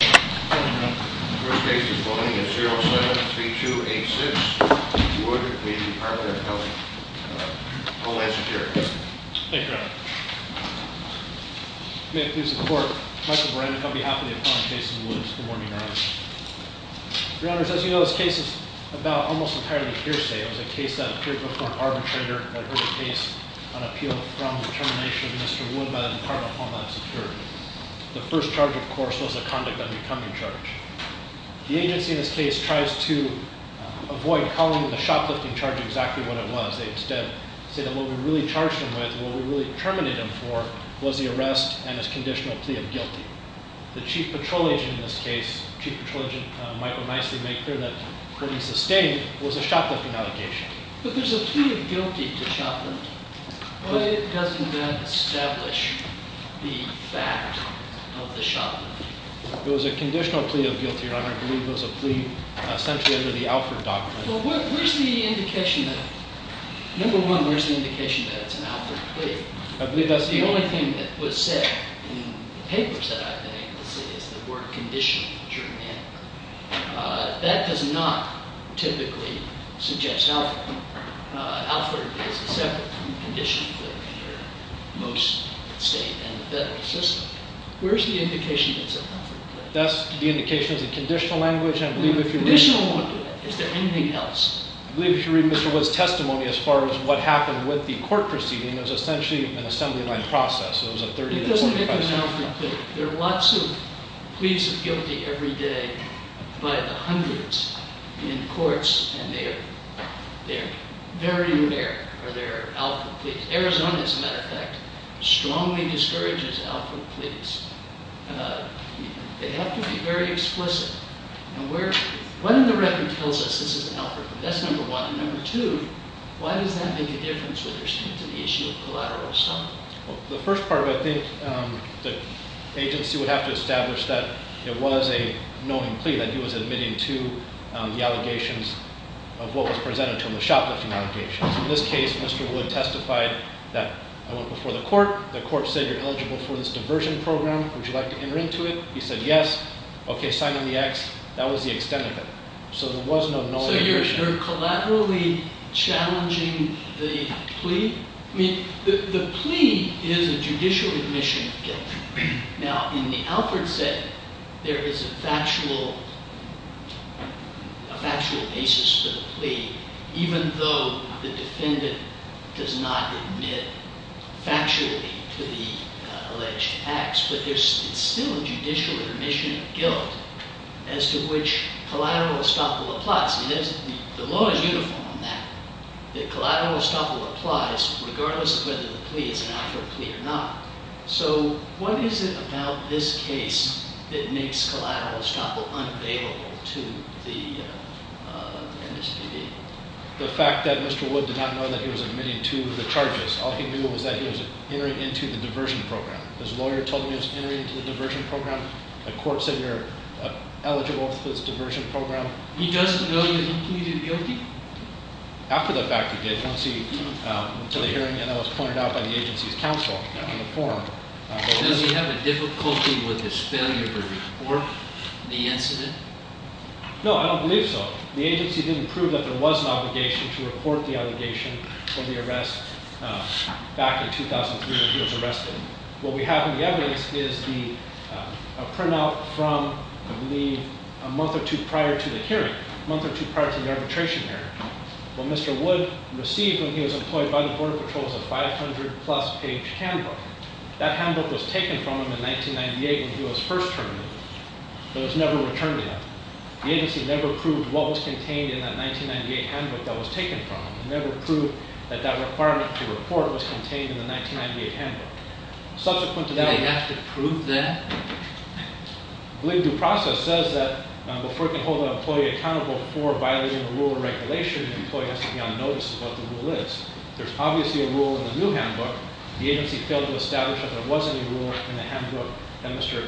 The first case is William 307-3286, Wood v. Department of Homeland Security. Thank you, Your Honor. May it please the Court, Michael Brandon on behalf of the opponent, Jason Woods. Good morning, Your Honor. Your Honor, as you know, this case is about almost entirely hearsay. It was a case that appeared before an arbitrator that heard a case on appeal from the termination of Mr. Wood by the Department of Homeland Security. The first charge, of course, was a conduct of unbecoming charge. The agency in this case tries to avoid calling the shoplifting charge exactly what it was. They instead say that what we really charged him with, what we really terminated him for, was the arrest and his conditional plea of guilty. The chief patrol agent in this case, chief patrol agent Michael Micey, made clear that what he sustained was a shoplifting allegation. But there's a plea of guilty to shoplifting. Why doesn't that establish the fact of the shoplifting? It was a conditional plea of guilty, Your Honor. I believe it was a plea essentially under the Alford doctrine. Well, where's the indication that – number one, where's the indication that it's an Alford plea? I believe that's the only thing that was said in papers that I've been able to see is the word conditional, which are men. That does not typically suggest Alford. Alford is a separate condition from most state and federal systems. Where's the indication that it's an Alford plea? That's the indication of the conditional language, and I believe if you read- Conditional won't do it. Is there anything else? I believe if you read Mr. Wood's testimony as far as what happened with the court proceeding, it was essentially an assembly line process. It doesn't make an Alford plea. There are lots of pleas of guilty every day by the hundreds in courts, and they're very rare are there Alford pleas. Arizona, as a matter of fact, strongly discourages Alford pleas. They have to be very explicit. When the record tells us this is an Alford plea, that's number one. Number two, why does that make a difference with respect to the issue of collateral assault? The first part of it, I think the agency would have to establish that it was a knowing plea that he was admitting to the allegations of what was presented to him, the shoplifting allegations. In this case, Mr. Wood testified that I went before the court. The court said you're eligible for this diversion program. Would you like to enter into it? He said yes. Okay, sign on the X. That was the extent of it. So there was no knowing plea. So you're collaterally challenging the plea? I mean, the plea is a judicial admission of guilt. Now, in the Alford setting, there is a factual basis for the plea, even though the defendant does not admit factually to the alleged acts. But there's still a judicial admission of guilt as to which collateral estoppel applies. The law is uniform on that, that collateral estoppel applies regardless of whether the plea is an Alford plea or not. So what is it about this case that makes collateral estoppel unavailable to the MSPD? The fact that Mr. Wood did not know that he was admitting to the charges. All he knew was that he was entering into the diversion program. His lawyer told him he was entering into the diversion program. The court said you're eligible for this diversion program. He doesn't know he was included guilty? After the fact, he did. Once he went to the hearing, and that was pointed out by the agency's counsel in the forum. Does he have a difficulty with his failure to report the incident? No, I don't believe so. The agency didn't prove that there was an obligation to report the allegation for the arrest back in 2003 when he was arrested. What we have in the evidence is a printout from, I believe, a month or two prior to the hearing. A month or two prior to the arbitration hearing. What Mr. Wood received when he was employed by the Border Patrol is a 500 plus page handbook. That handbook was taken from him in 1998 when he was first terminated. It was never returned to him. The agency never proved what was contained in that 1998 handbook that was taken from him. They never proved that that requirement to report was contained in the 1998 handbook. Subsequent to that- Do they have to prove that? I believe due process says that before it can hold an employee accountable for violating a rule or regulation, the employee has to be on notice of what the rule is. There's obviously a rule in the new handbook. The agency failed to establish that there was any rule in the handbook that Mr.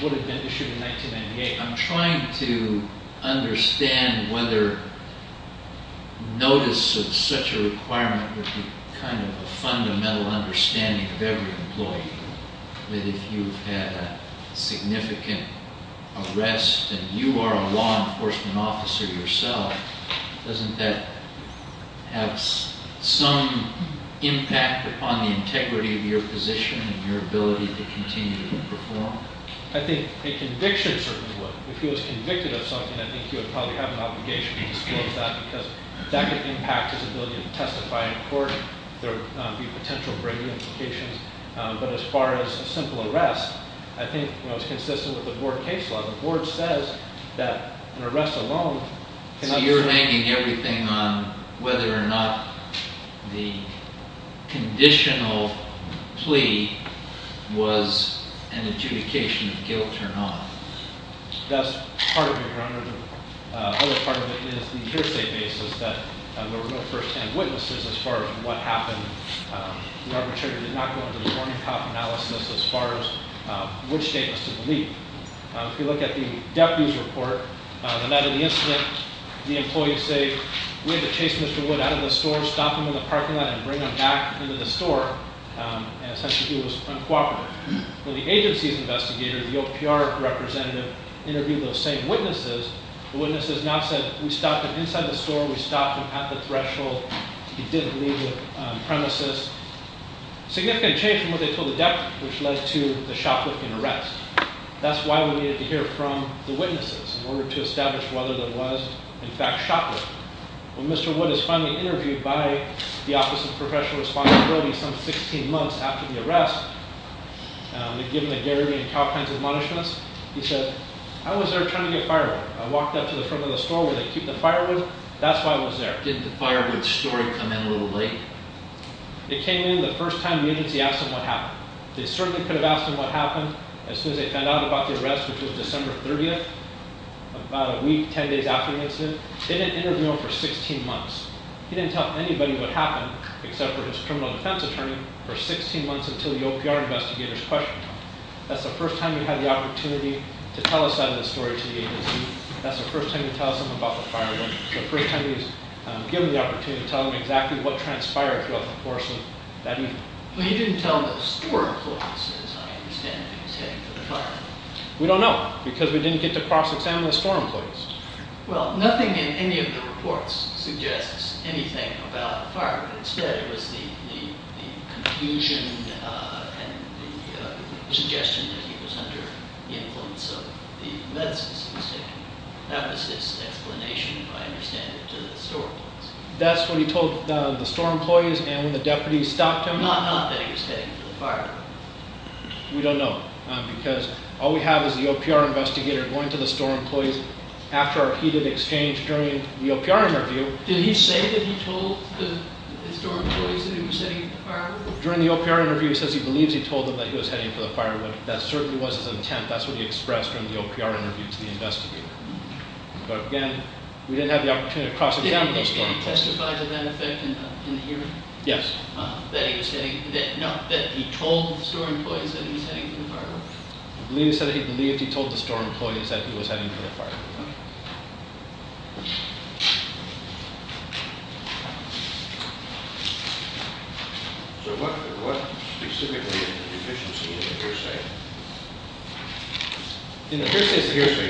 Wood had been issued in 1998. I'm trying to understand whether notice of such a requirement would be kind of a fundamental understanding of every employee. That if you've had a significant arrest and you are a law enforcement officer yourself, doesn't that have some impact upon the integrity of your position and your ability to continue to perform? I think a conviction certainly would. If he was convicted of something, I think he would probably have an obligation to disclose that because that could impact his ability to testify in court. There would be potential breaking implications. But as far as a simple arrest, I think it's consistent with the board case law. The board says that an arrest alone cannot- So you're hanging everything on whether or not the conditional plea was an adjudication of guilt or not. That's part of it, Your Honor. The other part of it is the hearsay basis that there were no first-hand witnesses as far as what happened. The arbitrator did not go into the morning cop analysis as far as which statements to delete. If you look at the deputy's report, the night of the incident, the employee would say, we had to chase Mr. Wood out of the store, stop him in the parking lot, and bring him back into the store. And essentially he was uncooperative. When the agency's investigator, the OPR representative, interviewed those same witnesses, the witnesses now said, we stopped him inside the store, we stopped him at the threshold, he didn't leave the premises. Significant change from what they told the deputy, which led to the shoplifting arrest. That's why we needed to hear from the witnesses in order to establish whether there was, in fact, shoplifting. When Mr. Wood is finally interviewed by the Office of Professional Responsibility some 16 months after the arrest, they give him the Gary V and Cal kinds of admonishments. He said, I was there trying to get firewood. I walked up to the front of the store where they keep the firewood. That's why I was there. Did the firewood story come in a little late? It came in the first time the agency asked him what happened. They certainly could have asked him what happened as soon as they found out about the arrest, which was December 30th, about a week, ten days after the incident. They didn't interview him for 16 months. He didn't tell anybody what happened, except for his criminal defense attorney, for 16 months until the OPR investigator's question time. That's the first time he had the opportunity to tell a side of the story to the agency. That's the first time he tells someone about the firewood. That's the first time he's given the opportunity to tell them exactly what transpired throughout the course of that evening. Well, he didn't tell the store employees, as I understand it, who was heading for the firewood. We don't know, because we didn't get to cross-examine the store employees. Well, nothing in any of the reports suggests anything about the firewood. Instead, it was the confusion and the suggestion that he was under the influence of the medicines he was taking. That was his explanation, as I understand it, to the store employees. That's what he told the store employees, and when the deputies stopped him— Not that he was heading for the firewood. We don't know, because all we have is the OPR investigator going to the store employees after our heated exchange during the OPR interview. Did he say that he told the store employees that he was heading for the firewood? During the OPR interview, he says he believes he told them that he was heading for the firewood. That certainly was his intent. That's what he expressed during the OPR interview to the investigator. But again, we didn't have the opportunity to cross-examine those store employees. Did he testify to that effect in the hearing? Yes. That he was heading—no, that he told the store employees that he was heading for the firewood? He believed he told the store employees that he was heading for the firewood. So what specifically is the deficiency in the hearsay? The hearsay,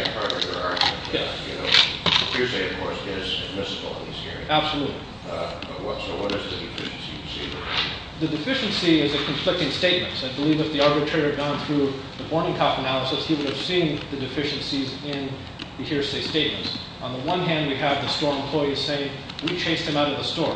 of course, is admissible in these hearings. Absolutely. So what is the deficiency? The deficiency is a conflicting statement. I believe if the arbitrator had gone through the Bormannkopf analysis, he would have seen the deficiencies in the hearsay statements. On the one hand, we have the store employees saying, we chased him out of the store.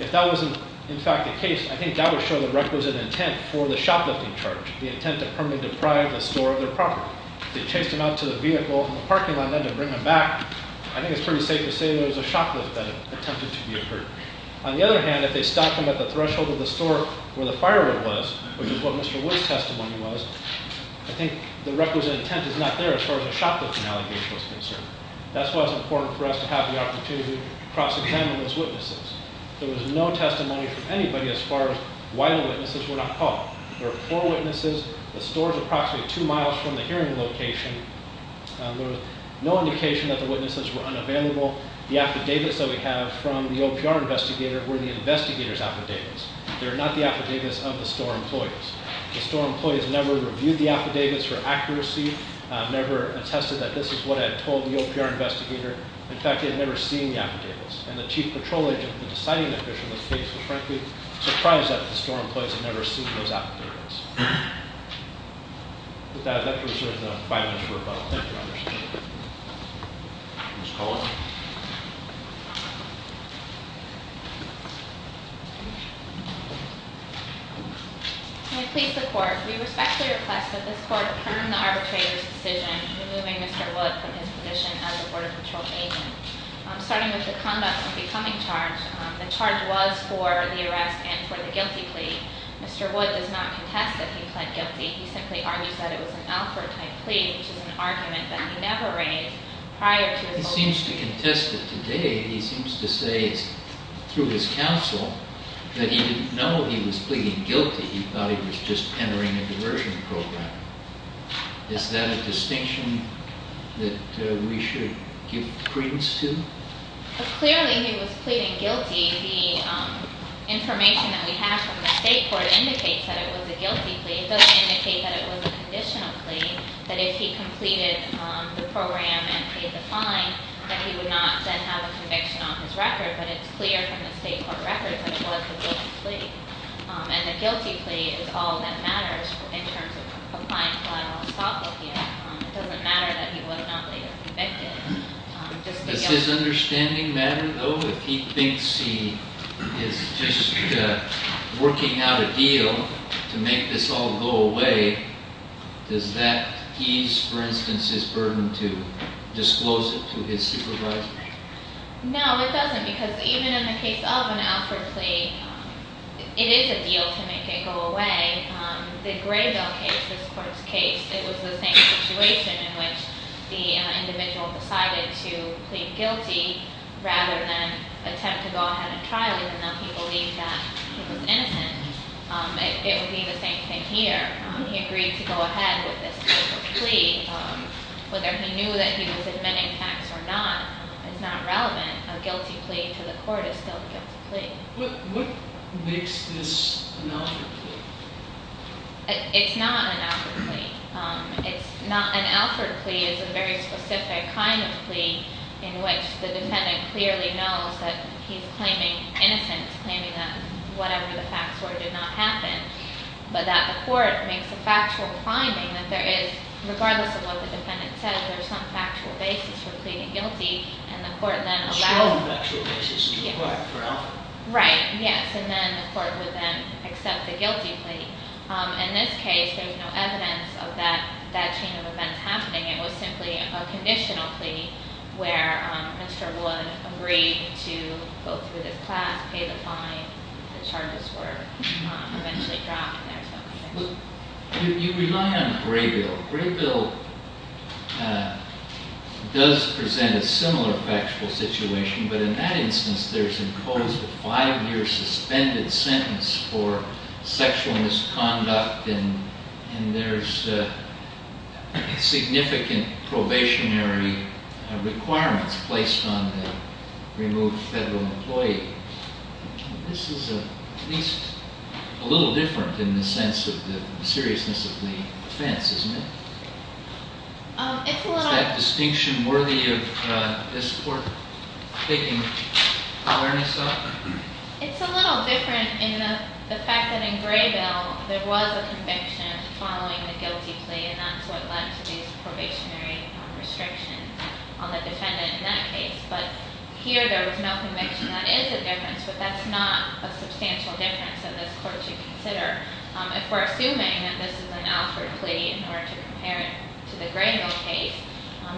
If that was, in fact, the case, I think that would show the requisite intent for the shoplifting charge. The intent to permanently deprive the store of their property. If they chased him out to the vehicle in the parking lot and then to bring him back, I think it's pretty safe to say there was a shoplift that attempted to be occurred. On the other hand, if they stopped him at the threshold of the store where the firewood was, which is what Mr. Wood's testimony was, I think the requisite intent is not there as far as a shoplifting allegation was concerned. That's why it's important for us to have the opportunity to cross-examine those witnesses. There was no testimony from anybody as far as why the witnesses were not called. There were four witnesses. The store's approximately two miles from the hearing location. There was no indication that the witnesses were unavailable. The affidavits that we have from the OPR investigator were the investigator's affidavits. They're not the affidavits of the store employees. The store employees never reviewed the affidavits for accuracy, never attested that this is what I had told the OPR investigator. In fact, they had never seen the affidavits. And the chief patrol agent, the deciding official of the case was frankly surprised that the store employees had never seen those affidavits. With that, I'd like to reserve the five minutes for rebuttal. Thank you, Your Honor. Ms. Coleman. May I please report? We respectfully request that this court confirm the arbitrator's decision in removing Mr. Wood from his position as a border patrol agent. Starting with the conduct of the coming charge, the charge was for the arrest and for the guilty plea. Mr. Wood does not contest that he pled guilty. He simply argues that it was an Alford-type plea, which is an argument that he never raised prior to his motion. He seems to contest it today. He seems to say through his counsel that he didn't know he was pleading guilty. He thought he was just entering a diversion program. Is that a distinction that we should give credence to? Clearly, he was pleading guilty. The information that we have from the state court indicates that it was a guilty plea. It doesn't indicate that it was a conditional plea, that if he completed the program and paid the fine, that he would not then have a conviction on his record. But it's clear from the state court record that it was a guilty plea. And a guilty plea is all that matters in terms of applying collateral assault with you. It doesn't matter that he was not later convicted. Does his understanding matter, though? If he thinks he is just working out a deal to make this all go away, does that ease, for instance, his burden to disclose it to his supervisor? No, it doesn't, because even in the case of an outward plea, it is a deal to make it go away. The Graybill case, this court's case, it was the same situation in which the individual decided to plead guilty rather than attempt to go ahead and trial him, even though he believed that he was innocent. It would be the same thing here. He agreed to go ahead with this type of plea. Whether he knew that he was admitting tax or not is not relevant. A guilty plea to the court is still a guilty plea. What makes this an outward plea? It's not an outward plea. An outward plea is a very specific kind of plea in which the defendant clearly knows that he's claiming innocence, claiming that whatever the facts were did not happen, but that the court makes a factual finding that there is, regardless of what the defendant says, there is some factual basis for pleading guilty, and the court then allows it. A strong factual basis is required for an outward plea. Right, yes, and then the court would then accept the guilty plea. In this case, there was no evidence of that chain of events happening. It was simply a conditional plea where Mr. Wood agreed to go through this class, pay the fine. The charges were eventually dropped. You rely on Graybill. Graybill does present a similar factual situation, but in that instance, there's imposed a five-year suspended sentence for sexual misconduct, and there's significant probationary requirements placed on the removed federal employee. This is at least a little different in the sense of the seriousness of the offense, isn't it? Is that distinction worthy of this court taking awareness of? It's a little different in the fact that in Graybill, there was a conviction following the guilty plea, and that's what led to these probationary restrictions on the defendant in that case, but here there was no conviction. That is a difference, but that's not a substantial difference in this court to consider. If we're assuming that this is an outward plea in order to compare it to the Graybill case,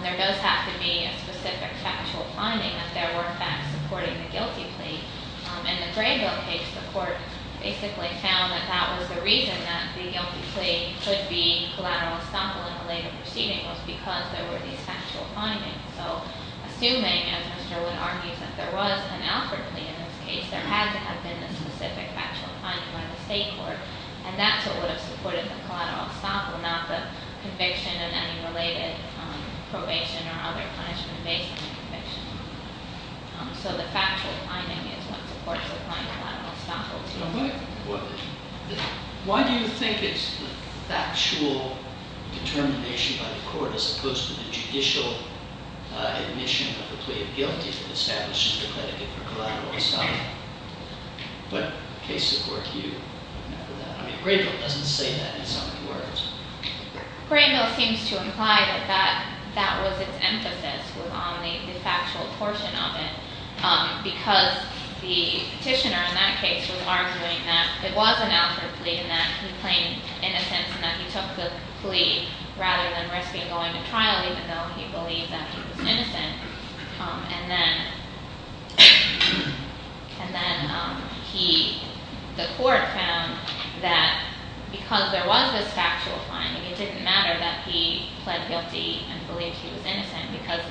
there does have to be a specific factual finding that there were facts supporting the guilty plea. In the Graybill case, the court basically found that that was the reason that the guilty plea could be collateral estoppel in a later proceeding was because there were these factual findings. So assuming, as Mr. Wood argues, that there was an outward plea in this case, there had to have been a specific factual finding by the state court, and that's what would have supported the collateral estoppel, not the conviction and any related probation or other punishment based on the conviction. So the factual finding is what supports the client collateral estoppel. Why do you think it's the factual determination by the court as opposed to the judicial admission of the plea of guilty that establishes the predicate for collateral estoppel? What case of work do you remember that? I mean, Graybill doesn't say that in so many words. Graybill seems to imply that that was its emphasis was on the factual portion of it because the petitioner in that case was arguing that it was an outward plea and that he claimed innocence and that he took the plea rather than risking going to trial even though he believed that he was innocent. And then the court found that because there was this factual finding, it didn't matter that he pled guilty and believed he was innocent because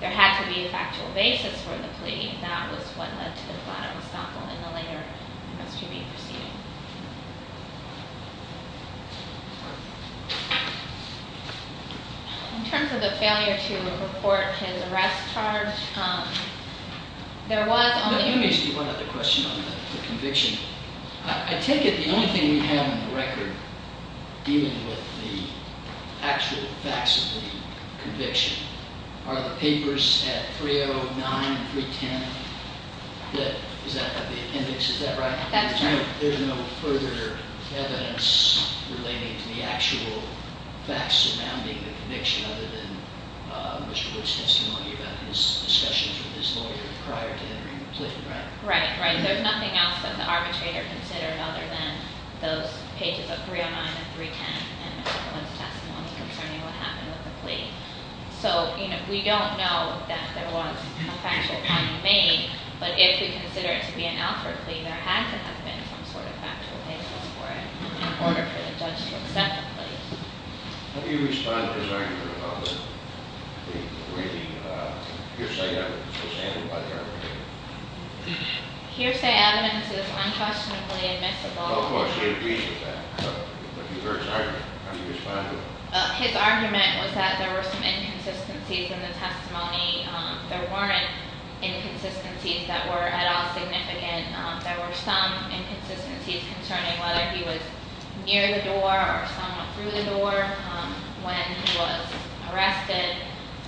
there had to be a factual basis for the plea. That was what led to the collateral estoppel in the later investigation proceeding. In terms of the failure to report his arrest charge, there was only... Let me ask you one other question on the conviction. I take it the only thing we have on the record dealing with the actual facts of the conviction are the papers at 309 and 310. Is that the index? Is that right? That's right. There's no further evidence relating to the actual facts surrounding the conviction other than Mr. Woods' testimony about his discussions with his lawyer prior to entering the plea, right? Right. There's nothing else that the arbitrator considered other than those pages of 309 and 310 and Mr. Woods' testimony concerning what happened with the plea. So we don't know that there was a factual finding made, but if we consider it to be an outward plea, there had to have been some sort of factual basis for it How do you respond to his argument about the briefing? Hearsay evidence is handled by the arbitrator. Hearsay evidence is unquestionably admissible. Of course, it agrees with that. But you heard his argument. How do you respond to it? His argument was that there were some inconsistencies in the testimony. There weren't inconsistencies that were at all significant. There were some inconsistencies concerning whether he was near the door or somewhat through the door when he was arrested.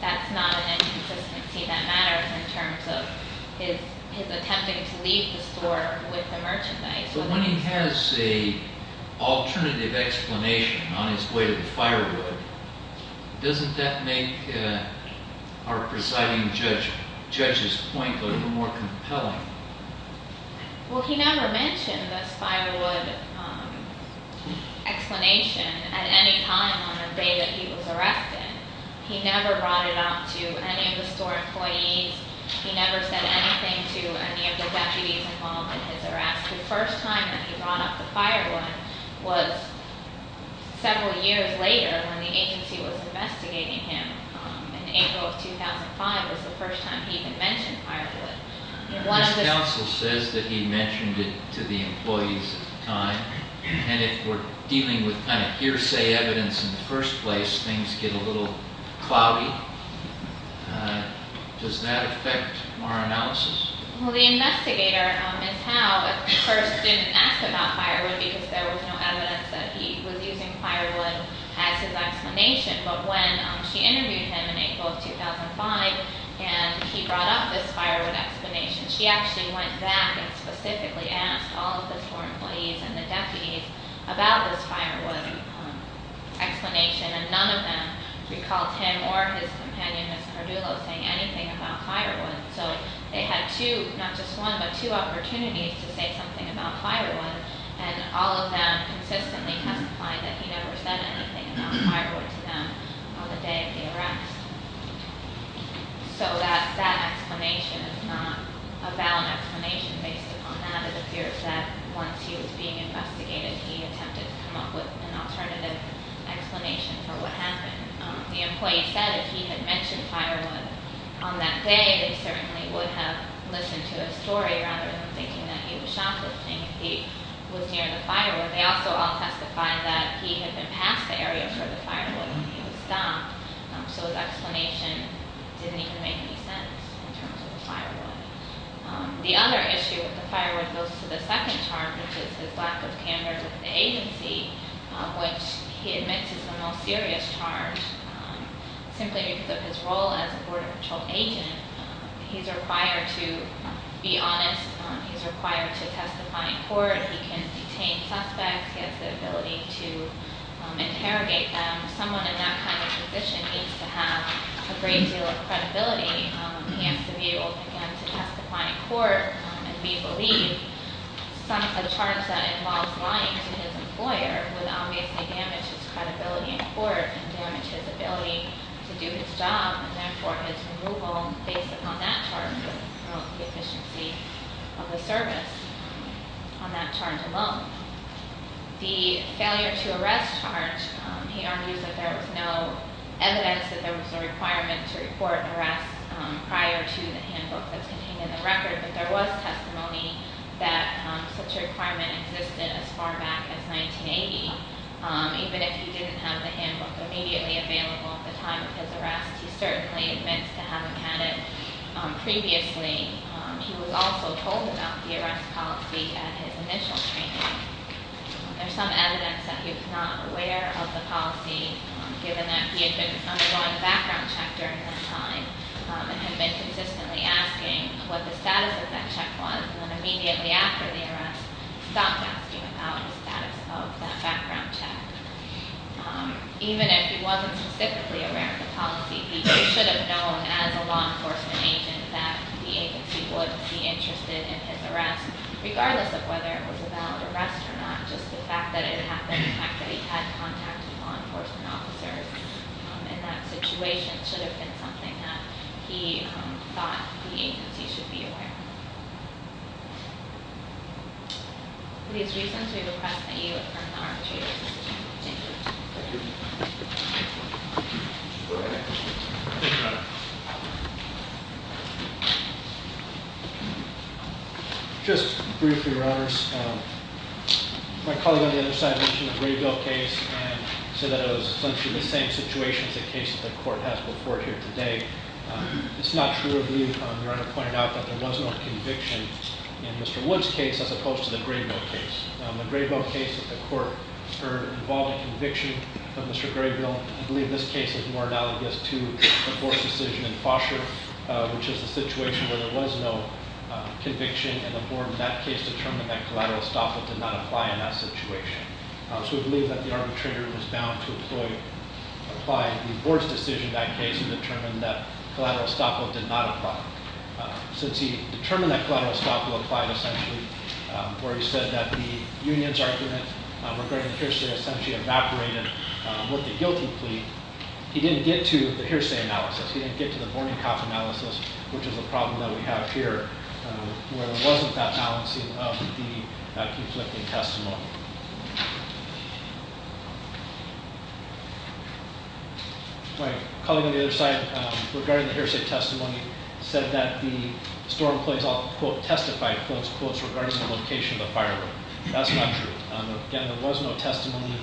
That's not an inconsistency that matters in terms of his attempting to leave the store with the merchandise. When he has an alternative explanation on his way to the firewood, doesn't that make our presiding judge's point a little more compelling? Well, he never mentioned this firewood explanation at any time on the day that he was arrested. He never brought it up to any of the store employees. He never said anything to any of the deputies involved in his arrest. The first time that he brought up the firewood was several years later when the agency was investigating him. In April of 2005 was the first time he had mentioned firewood. This counsel says that he mentioned it to the employees at the time, and if we're dealing with kind of hearsay evidence in the first place, things get a little cloudy. Does that affect our analysis? Well, the investigator, Ms. Howe, at first didn't ask about firewood because there was no evidence that he was using firewood as his explanation. But when she interviewed him in April of 2005 and he brought up this firewood explanation, she actually went back and specifically asked all of the store employees and the deputies about this firewood explanation, and none of them recalled him or his companion, Ms. Cordulo, saying anything about firewood. So they had two, not just one, but two opportunities to say something about firewood, and all of them consistently testified that he never said anything about firewood to them on the day of the arrest. So that explanation is not a valid explanation based upon that. It appears that once he was being investigated, he attempted to come up with an alternative explanation for what happened. The employee said if he had mentioned firewood on that day, they certainly would have listened to his story rather than thinking that he was shoplifting. If he was near the firewood, they also all testified that he had been past the area for the firewood and he was stopped. So his explanation didn't even make any sense in terms of the firewood. The other issue with the firewood goes to the second charge, which is his lack of candor to the agency, which he admits is the most serious charge simply because of his role as a border patrol agent. He's required to be honest. He's required to testify in court. He can detain suspects. He has the ability to interrogate them. Someone in that kind of position needs to have a great deal of credibility. He has to be able, again, to testify in court. And we believe a charge that involves lying to his employer would obviously damage his credibility in court and damage his ability to do his job and, therefore, his removal based upon that charge would promote the efficiency of the service on that charge alone. The failure to arrest charge, he argues that there was no evidence that there was a requirement to report an arrest prior to the handbook that's contained in the record, but there was testimony that such a requirement existed as far back as 1980. Even if he didn't have the handbook immediately available at the time of his arrest, he certainly admits to having had it previously. He was also told about the arrest policy at his initial training. There's some evidence that he was not aware of the policy, given that he had been undergoing a background check during this time and had been consistently asking what the status of that check was. And then immediately after the arrest, stopped asking about the status of that background check. Even if he wasn't specifically aware of the policy, he should have known as a law enforcement agent that the agency would be interested in his arrest, regardless of whether it was a valid arrest or not, just the fact that it happened, the fact that he had contact with law enforcement officers. In that situation, it should have been something that he thought the agency should be aware of. For these reasons, we request that you affirm the arbitration. Thank you. Thank you. Just briefly, Your Honors. My colleague on the other side mentioned the Graybill case and said that it was essentially the same situation as the case that the court has before here today. It's not true. I believe Your Honor pointed out that there was no conviction in Mr. Wood's case as opposed to the Graybill case. The Graybill case that the court heard involved a conviction of Mr. Graybill. I believe this case is more analogous to the forced decision in Foster, which is the situation where there was no conviction, and the board in that case determined that collateral estoppel did not apply in that situation. So we believe that the arbitrator was bound to apply the board's decision in that case and determine that collateral estoppel did not apply. Since he determined that collateral estoppel applied essentially, or he said that the union's argument regarding hearsay essentially evaporated with the guilty plea, he didn't get to the hearsay analysis. He didn't get to the morning cop analysis, which is a problem that we have here, where there wasn't that balancing of the conflicting testimony. My colleague on the other side, regarding the hearsay testimony, said that the store employees all, quote, testified, quote, unquote, regarding the location of the firewood. That's not true. Again, there was no testimony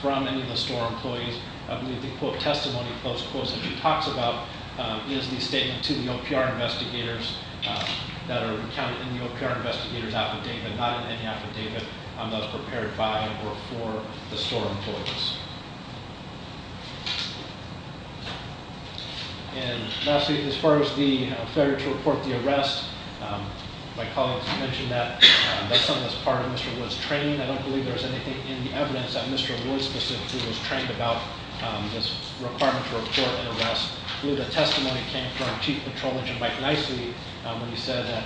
from any of the store employees. I believe the quote, testimony, close quotes that he talks about is the statement to the OPR investigators that are counted in the OPR investigators affidavit, not in any affidavit on those prepared by or for the store employees. And lastly, as far as the failure to report the arrest, my colleagues mentioned that. That's on this part of Mr. Wood's training. I don't believe there's anything in the evidence that Mr. Wood specifically was trained about this requirement to report an arrest. The testimony came from Chief Petrolidge and Mike Nicely when he said that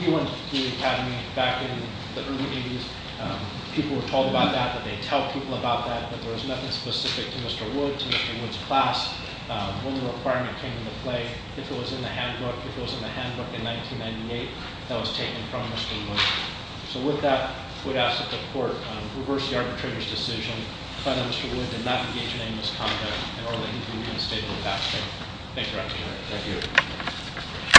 he went to the academy back in the early 80s. People were told about that, that they'd tell people about that, that there was nothing specific to Mr. Wood, to Mr. Wood's class. When the requirement came into play, if it was in the handbook, if it was in the handbook in 1998, that was taken from Mr. Wood. So with that, we'd ask that the court reverse the arbitrator's decision, find out if Mr. Wood did not engage in any misconduct, and order that he be reinstated with that statement. Thank you, Your Honor. Thank you.